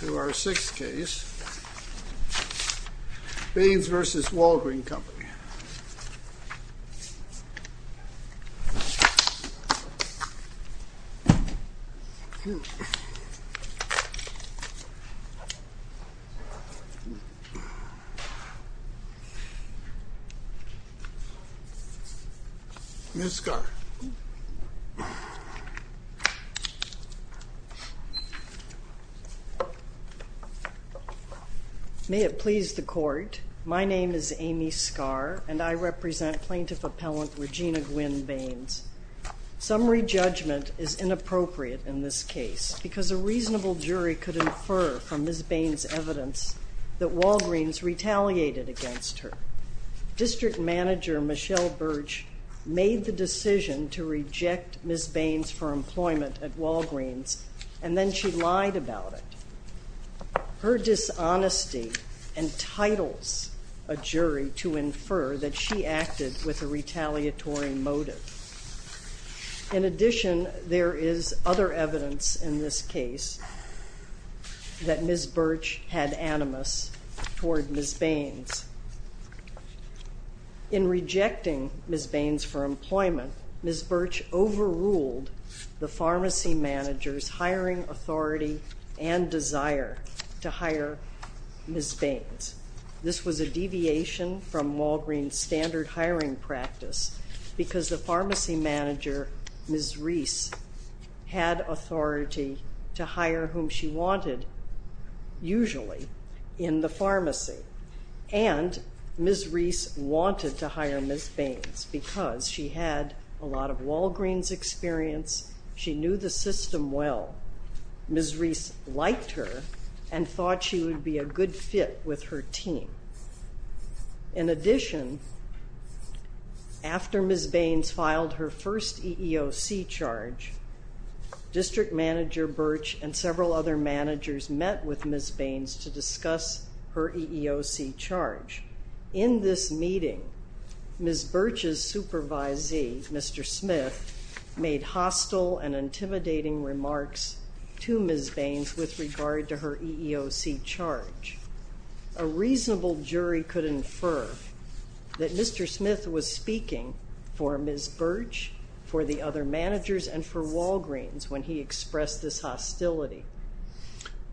To our sixth case, Baines v. Walgreen Company. Ms. Scott. May it please the Court, my name is Amy Scarr and I represent plaintiff appellant Regina Gwynne Baines. Summary judgment is inappropriate in this case because a reasonable jury could infer from Ms. Baines' evidence that Walgreens retaliated against her. District Manager Michelle Birch made the decision to reject Ms. Baines for employment at Walgreens and then she lied about it. Her dishonesty entitles a jury to infer that she acted with a retaliatory motive. In addition, there is other evidence in this case that Ms. Birch had animus toward Ms. Baines. In rejecting Ms. Baines for employment, Ms. Birch overruled the pharmacy manager's hiring authority and desire to hire Ms. Baines. This was a deviation from Walgreens' standard hiring practice because the pharmacy manager, Ms. Rees, had authority to hire whom she wanted, usually, in the pharmacy. And Ms. Rees wanted to hire Ms. Baines because she had a lot of Walgreens experience, she knew the system well, Ms. Rees liked her and thought she would be a good fit with her team. In addition, after Ms. Baines filed her first EEOC charge, District Manager Birch and several other managers met with Ms. Baines to discuss her EEOC charge. In this meeting, Ms. Birch's supervisee, Mr. Smith, made hostile and intimidating remarks to Ms. Baines with regard to her EEOC charge. A reasonable jury could infer that Mr. Smith was speaking for Ms. Birch, for the other managers, and for Walgreens when he expressed this hostility.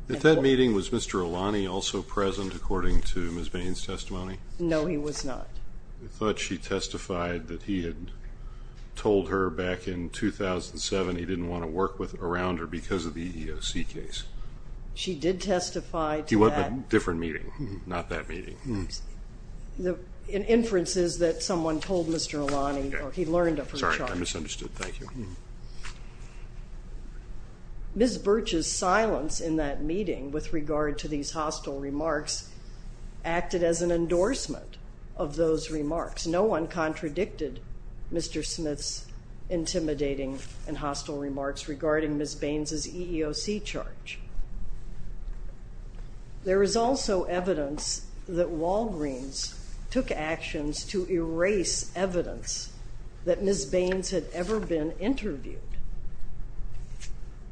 At that meeting, was Mr. Alani also present, according to Ms. Baines' testimony? No, he was not. I thought she testified that he had told her back in 2007 he didn't want to work around her because of the EEOC case. She did testify to that. He went to a different meeting, not that meeting. The inference is that someone told Mr. Alani, or he learned of her charge. Sorry, I misunderstood. Thank you. Ms. Birch's silence in that meeting with regard to these hostile remarks acted as an endorsement of those remarks. No one contradicted Mr. Smith's intimidating and hostile remarks regarding Ms. Baines' EEOC charge. There is also evidence that Walgreens took actions to erase evidence that Ms. Baines had ever been interviewed.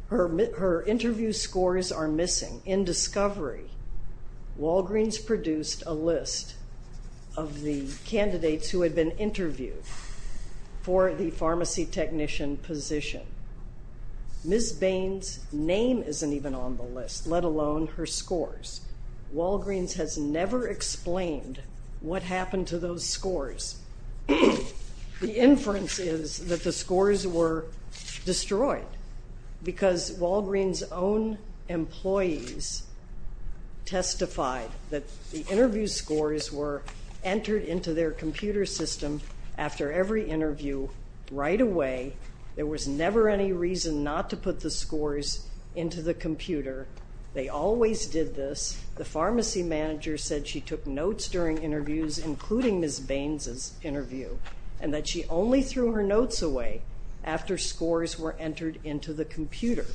Her interview scores are missing. In discovery, Walgreens produced a list of the candidates who had been interviewed for the pharmacy technician position. Ms. Baines' name isn't even on the list, let alone her scores. Walgreens has never explained what happened to those scores. The inference is that the scores were destroyed because Walgreens' own employees testified that the interview scores were entered into their computer system after every interview right away. There was never any reason not to put the scores into the computer. They always did this. The pharmacy manager said she took notes during interviews, including Ms. Baines' interview, and that she only threw her notes away after scores were entered into the computer.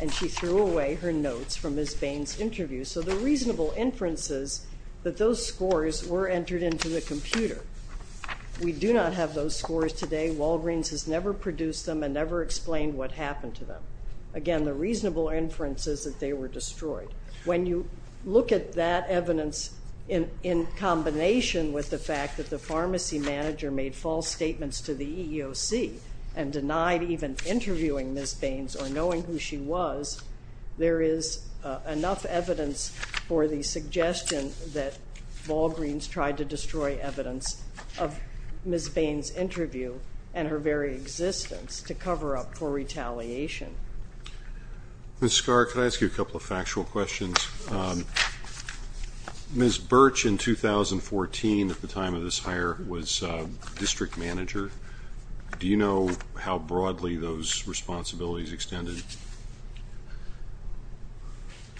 And she threw away her notes from Ms. Baines' interview. So the reasonable inference is that those scores were entered into the computer. We do not have those scores today. Walgreens has never produced them and never explained what happened to them. Again, the reasonable inference is that they were destroyed. When you look at that evidence in combination with the fact that the pharmacy manager made false statements to the EEOC and denied even interviewing Ms. Baines or knowing who she was, there is enough evidence for the suggestion that Walgreens tried to destroy evidence of Ms. Baines' interview and her very existence to cover up for retaliation. Ms. Scarr, can I ask you a couple of factual questions? Yes. Ms. Birch, in 2014, at the time of this hire, was district manager. Do you know how broadly those responsibilities extended?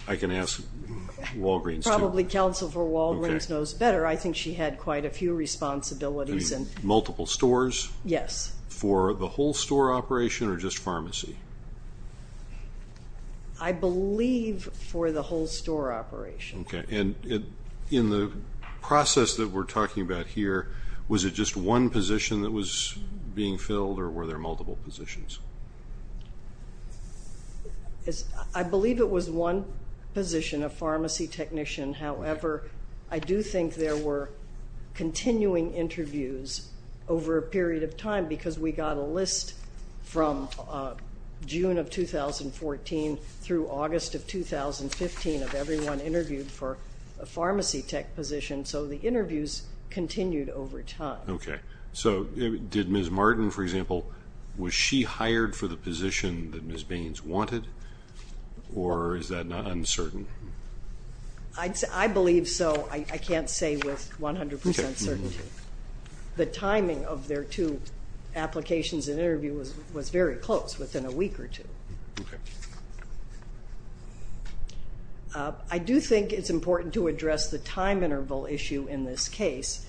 I can ask Walgreens. Probably Counsel for Walgreens knows better. I think she had quite a few responsibilities. Multiple stores? Yes. For the whole store operation or just pharmacy? I believe for the whole store operation. In the process that we're talking about here, was it just one position that was being filled or were there multiple positions? I believe it was one position, a pharmacy technician. However, I do think there were continuing interviews over a period of time because we got a list from June of 2014 through August of 2015 of everyone interviewed for a pharmacy tech position. So the interviews continued over time. Okay. So did Ms. Martin, for example, was she hired for the position that Ms. Baines wanted or is that uncertain? I believe so. I can't say with 100% certainty. The timing of their two applications and interview was very close, within a week or two. Okay. I do think it's important to address the time interval issue in this case.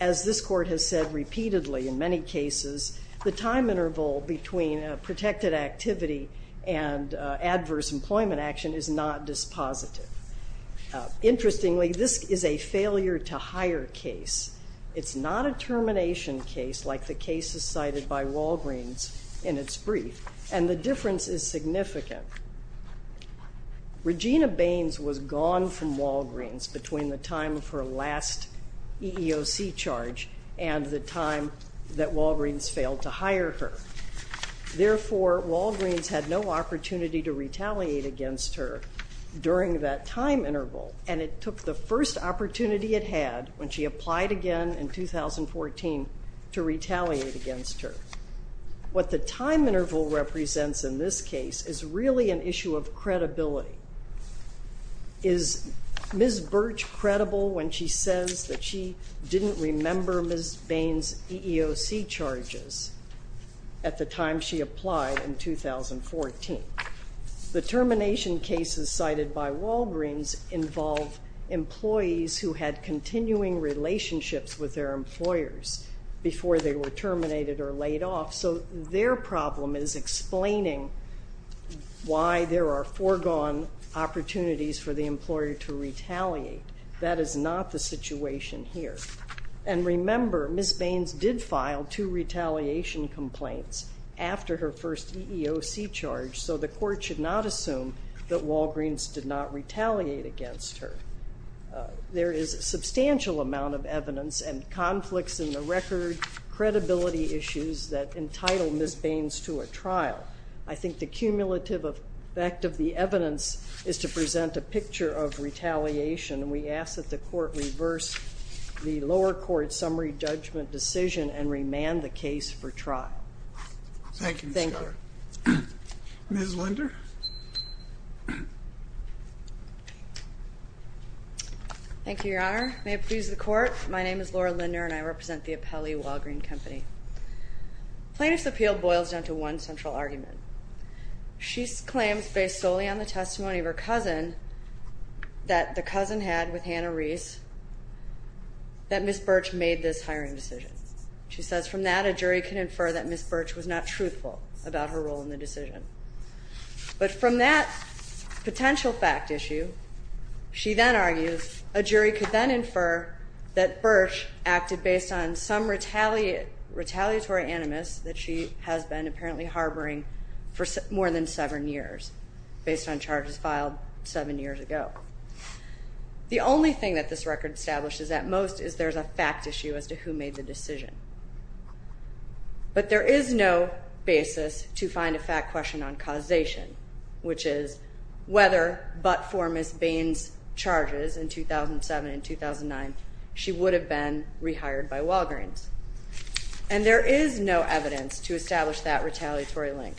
As this court has said repeatedly in many cases, the time interval between a protected activity and adverse employment action is not dispositive. Interestingly, this is a failure-to-hire case. It's not a termination case like the cases cited by Walgreens in its brief, and the difference is significant. Regina Baines was gone from Walgreens between the time of her last EEOC charge and the time that Walgreens failed to hire her. Therefore, Walgreens had no opportunity to retaliate against her during that time interval, and it took the first opportunity it had when she applied again in 2014 to retaliate against her. What the time interval represents in this case is really an issue of credibility. Is Ms. Birch credible when she says that she didn't remember Ms. Baines' EEOC charges at the time she applied in 2014? The termination cases cited by Walgreens involve employees who had continuing relationships with their employers before they were terminated or laid off, so their problem is explaining why there are foregone opportunities for the employer to retaliate. That is not the situation here. And remember, Ms. Baines did file two retaliation complaints after her first EEOC charge, so the court should not assume that Walgreens did not retaliate against her. There is a substantial amount of evidence and conflicts in the record, credibility issues that entitle Ms. Baines to a trial. I think the cumulative effect of the evidence is to present a picture of retaliation. We ask that the court reverse the lower court summary judgment decision and remand the case for trial. Thank you, Ms. Keller. Ms. Linder? Thank you, Your Honor. May it please the Court, my name is Laura Linder, and I represent the Appellee Walgreen Company. Plaintiff's appeal boils down to one central argument. She claims, based solely on the testimony of her cousin, that the cousin had with Hannah Reese, that Ms. Birch made this hiring decision. She says from that, a jury can infer that Ms. Birch was not truthful about her role in the decision. But from that potential fact issue, she then argues, a jury could then infer that Birch acted based on some retaliatory animus that she has been apparently harboring for more than seven years, based on charges filed seven years ago. The only thing that this record establishes at most is there's a fact issue as to who made the decision. But there is no basis to find a fact question on causation, which is whether but for Ms. Baines' charges in 2007 and 2009, she would have been rehired by Walgreens. And there is no evidence to establish that retaliatory link.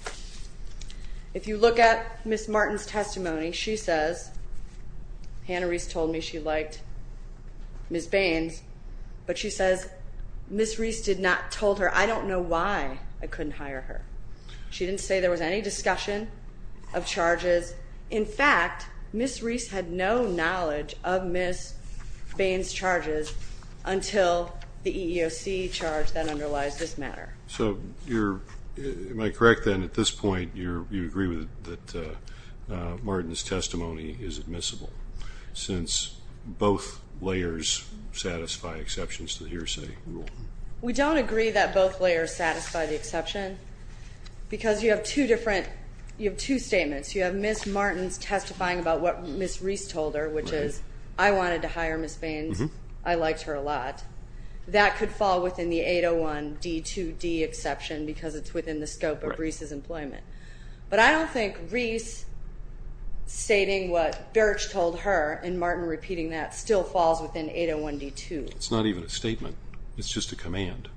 If you look at Ms. Martin's testimony, she says, Hannah Reese told me she liked Ms. Baines. But she says, Ms. Reese did not tell her, I don't know why I couldn't hire her. She didn't say there was any discussion of charges. In fact, Ms. Reese had no knowledge of Ms. Baines' charges until the EEOC charge that underlies this matter. So you're, am I correct then, at this point, you agree that Martin's testimony is admissible, since both layers satisfy exceptions to the hearsay rule? We don't agree that both layers satisfy the exception, because you have two different, you have two statements. You have Ms. Martin's testifying about what Ms. Reese told her, which is, I wanted to hire Ms. Baines. I liked her a lot. That could fall within the 801 D2D exception, because it's within the scope of Reese's employment. But I don't think Reese stating what Birch told her, and Martin repeating that, still falls within 801 D2. It's not even a statement. It's just a command.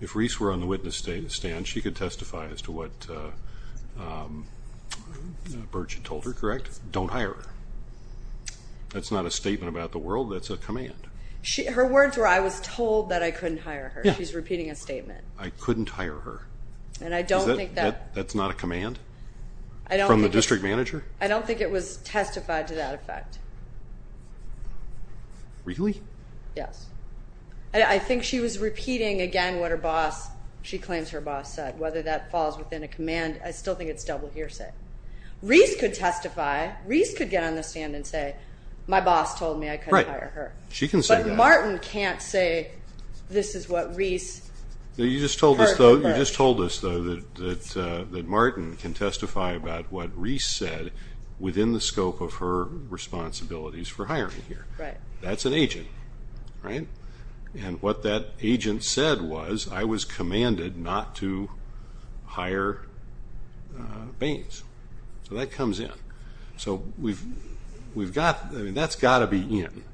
If Reese were on the witness stand, she could testify as to what Birch had told her, correct? Don't hire her. That's not a statement about the world. That's a command. Her words were, I was told that I couldn't hire her. She's repeating a statement. I couldn't hire her. That's not a command from the district manager? I don't think it was testified to that effect. Really? Yes. I think she was repeating, again, what her boss, she claims her boss said. Whether that falls within a command, I still think it's double hearsay. Reese could testify. Reese could get on the stand and say, my boss told me I couldn't hire her. Right. She can say that. But Martin can't say, this is what Reese. You just told us, though, that Martin can testify about what Reese said within the scope of her responsibilities for hiring here. Right. That's an agent, right? And what that agent said was, I was commanded not to hire Baines. So that comes in. So that's got to be in.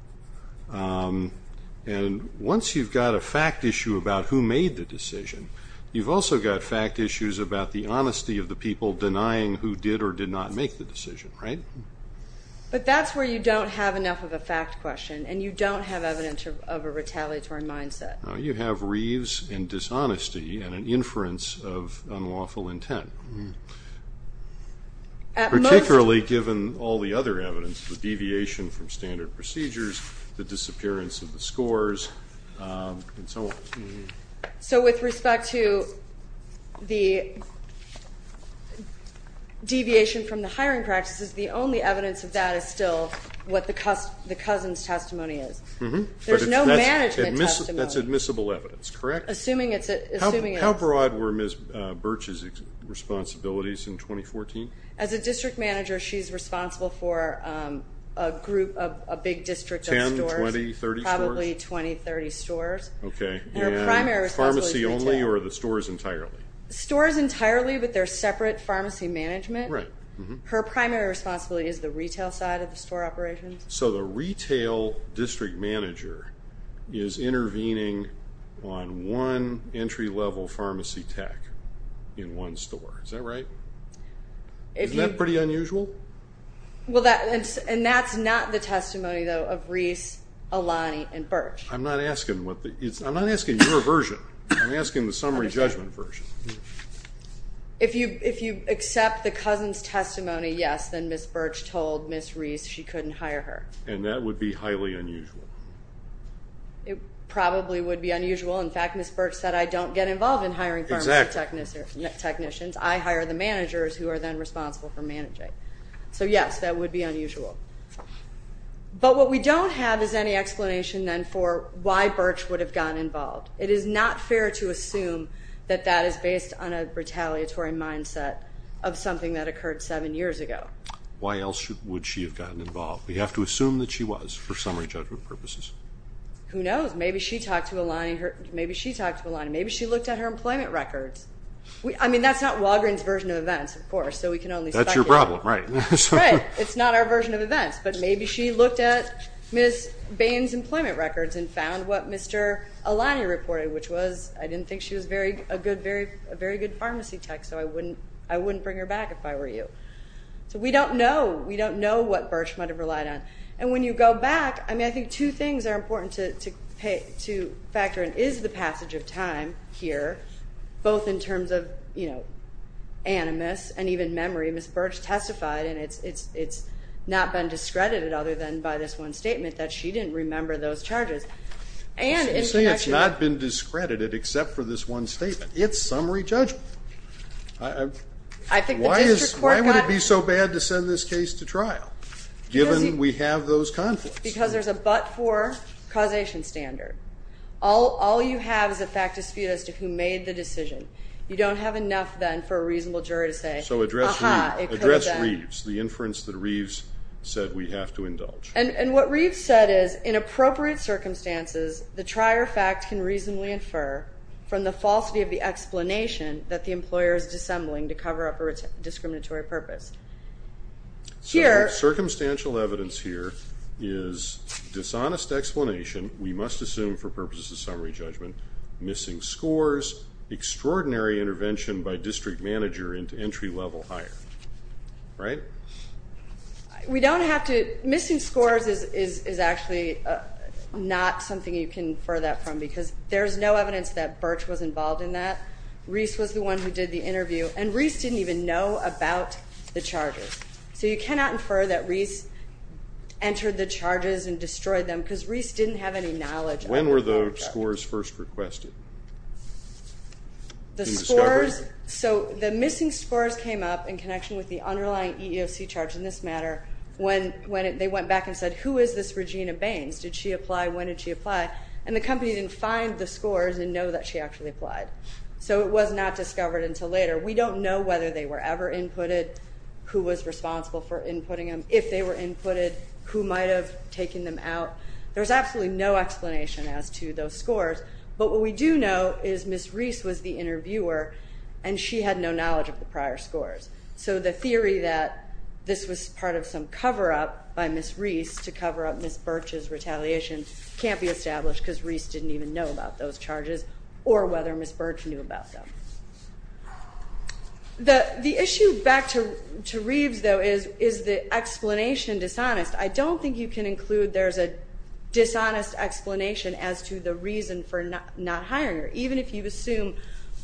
And once you've got a fact issue about who made the decision, you've also got fact issues about the honesty of the people denying who did or did not make the decision, right? But that's where you don't have enough of a fact question, and you don't have evidence of a retaliatory mindset. No, you have Reeves and dishonesty and an inference of unlawful intent. Particularly given all the other evidence, the deviation from standard procedures, the disappearance of the scores, and so on. So with respect to the deviation from the hiring practices, the only evidence of that is still what the cousin's testimony is. There's no management testimony. That's admissible evidence, correct? Assuming it's a ---- How broad were Ms. Birch's responsibilities in 2014? As a district manager, she's responsible for a group, a big district of stores. Ten, 20, 30 stores? Probably 20, 30 stores. Okay. And her primary responsibility is retail. Pharmacy only or the stores entirely? Stores entirely, but they're separate pharmacy management. Right. Her primary responsibility is the retail side of the store operations. So the retail district manager is intervening on one entry-level pharmacy tech in one store. Is that right? Isn't that pretty unusual? And that's not the testimony, though, of Reeves, Alani, and Birch. I'm not asking what the ---- I'm not asking your version. I'm asking the summary judgment version. If you accept the cousin's testimony, yes, then Ms. Birch told Ms. Reeves she couldn't hire her. And that would be highly unusual. It probably would be unusual. In fact, Ms. Birch said, I don't get involved in hiring pharmacy technicians. I hire the managers who are then responsible for managing. So, yes, that would be unusual. But what we don't have is any explanation, then, for why Birch would have gotten involved. It is not fair to assume that that is based on a retaliatory mindset of something that occurred seven years ago. Why else would she have gotten involved? We have to assume that she was for summary judgment purposes. Who knows? Maybe she talked to Alani. Maybe she talked to Alani. Maybe she looked at her employment records. I mean, that's not Walgreens' version of events, of course, so we can only speculate. That's your problem, right. Right. It's not our version of events. But maybe she looked at Ms. Bain's employment records and found what Mr. Alani reported, which was I didn't think she was a very good pharmacy tech, so I wouldn't bring her back if I were you. So we don't know. We don't know what Birch might have relied on. And when you go back, I mean, I think two things are important to factor in is the passage of time here, both in terms of, you know, animus and even memory. Ms. Birch testified, and it's not been discredited other than by this one statement, that she didn't remember those charges. You say it's not been discredited except for this one statement. It's summary judgment. Why would it be so bad to send this case to trial, given we have those conflicts? Because there's a but-for causation standard. You don't have enough, then, for a reasonable jury to say, ah-ha, it could have been. So address Reeves, the inference that Reeves said we have to indulge. And what Reeves said is, in appropriate circumstances, the trier fact can reasonably infer from the falsity of the explanation that the employer is dissembling to cover up a discriminatory purpose. Circumstantial evidence here is dishonest explanation, we must assume for purposes of summary judgment, missing scores, extraordinary intervention by district manager into entry level hire. Right? We don't have to. Missing scores is actually not something you can infer that from, because there's no evidence that Birch was involved in that. Reeves was the one who did the interview. And Reeves didn't even know about the charges. So you cannot infer that Reeves entered the charges and destroyed them, because Reeves didn't have any knowledge. When were the scores first requested? The scores, so the missing scores came up in connection with the underlying EEOC charge in this matter when they went back and said, who is this Regina Baines? Did she apply? When did she apply? And the company didn't find the scores and know that she actually applied. So it was not discovered until later. We don't know whether they were ever inputted, who was responsible for inputting them, if they were inputted, who might have taken them out. There's absolutely no explanation as to those scores. But what we do know is Miss Reeves was the interviewer, and she had no knowledge of the prior scores. So the theory that this was part of some cover-up by Miss Reeves to cover up Miss Birch's retaliation can't be established because Reeves didn't even know about those charges or whether Miss Birch knew about them. The issue back to Reeves, though, is the explanation dishonest. I don't think you can include there's a dishonest explanation as to the reason for not hiring her. Even if you assume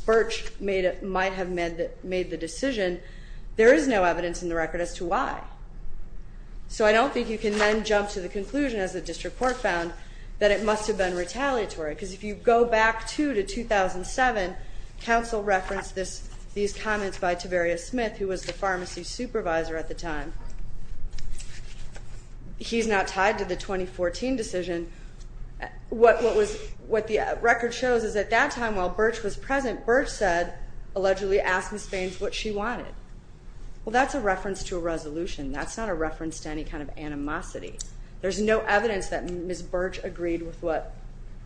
Birch might have made the decision, there is no evidence in the record as to why. So I don't think you can then jump to the conclusion, as the district court found, that it must have been retaliatory because if you go back to 2007, counsel referenced these comments by Tavaria Smith, who was the pharmacy supervisor at the time. He's not tied to the 2014 decision. What the record shows is at that time, while Birch was present, Birch allegedly asked Miss Baines what she wanted. Well, that's a reference to a resolution. That's not a reference to any kind of animosity. There's no evidence that Miss Birch agreed with what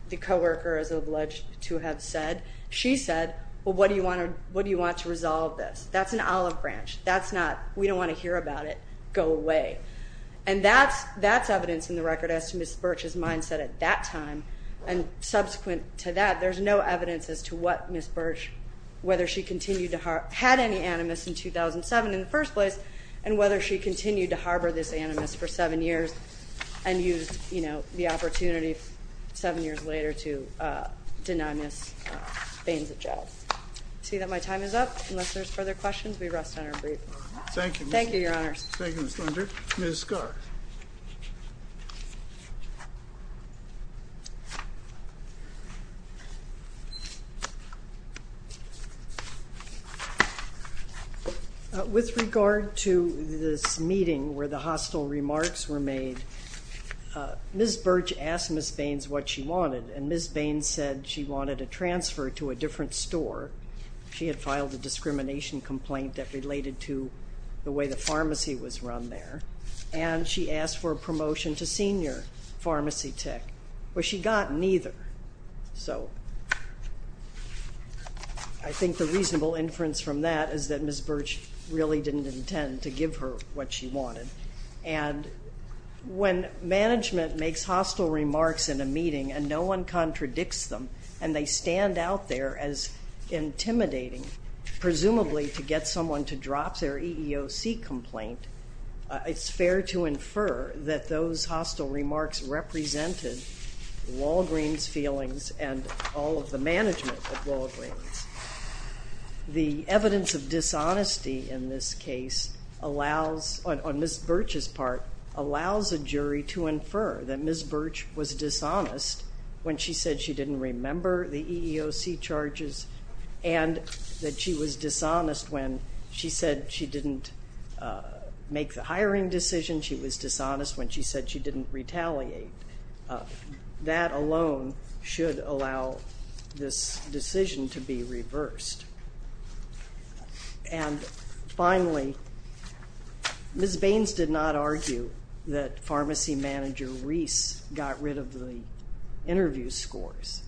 the co-worker is alleged to have said. She said, well, what do you want to resolve this? That's an olive branch. That's not, we don't want to hear about it. Go away. And that's evidence in the record as to Miss Birch's mindset at that time. And subsequent to that, there's no evidence as to what Miss Birch, whether she continued to harbor, had any animus in 2007 in the first place, and whether she continued to harbor this animus for seven years and used the opportunity seven years later to denounce Miss Baines at jail. I see that my time is up. Unless there's further questions, we rest on our brief. Thank you. Thank you, Your Honors. Thank you, Ms. Linder. Ms. Scarr. Thank you. With regard to this meeting where the hostile remarks were made, Miss Birch asked Miss Baines what she wanted, and Miss Baines said she wanted a transfer to a different store. She had filed a discrimination complaint that related to the way the pharmacy was run there, and she asked for a promotion to senior pharmacy tech. Well, she got neither. So I think the reasonable inference from that is that Miss Birch really didn't intend to give her what she wanted. And when management makes hostile remarks in a meeting and no one contradicts them and they stand out there as intimidating, presumably to get someone to drop their EEOC complaint, it's fair to infer that those hostile remarks represented Walgreen's feelings and all of the management of Walgreen's. The evidence of dishonesty in this case allows, on Miss Birch's part, allows a jury to infer that Miss Birch was dishonest when she said she didn't remember the EEOC charges and that she was dishonest when she said she didn't make the hiring decision, she was dishonest when she said she didn't retaliate. That alone should allow this decision to be reversed. And finally, Miss Baines did not argue that pharmacy manager Reese got rid of the interview scores.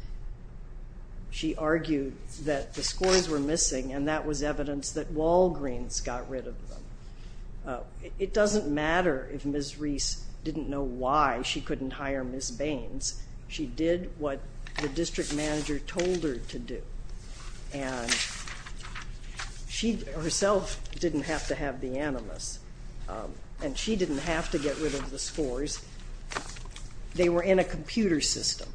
She argued that the scores were missing and that was evidence that Walgreen's got rid of them. It doesn't matter if Miss Reese didn't know why she couldn't hire Miss Baines. She did what the district manager told her to do. And she herself didn't have to have the animus and she didn't have to get rid of the scores. They were in a computer system.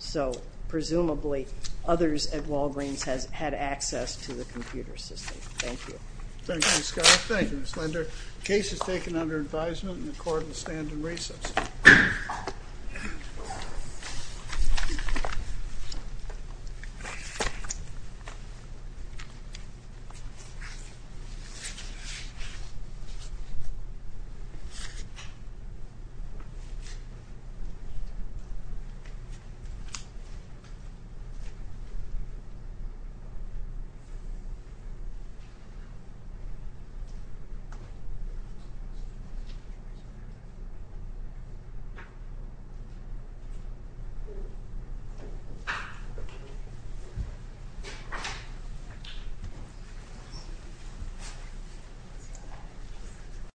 So presumably others at Walgreen's had access to the computer system. Thank you. Thank you, Ms. Scott. Thank you, Ms. Linder. The case is taken under advisement and the court will stand in recess. Thank you.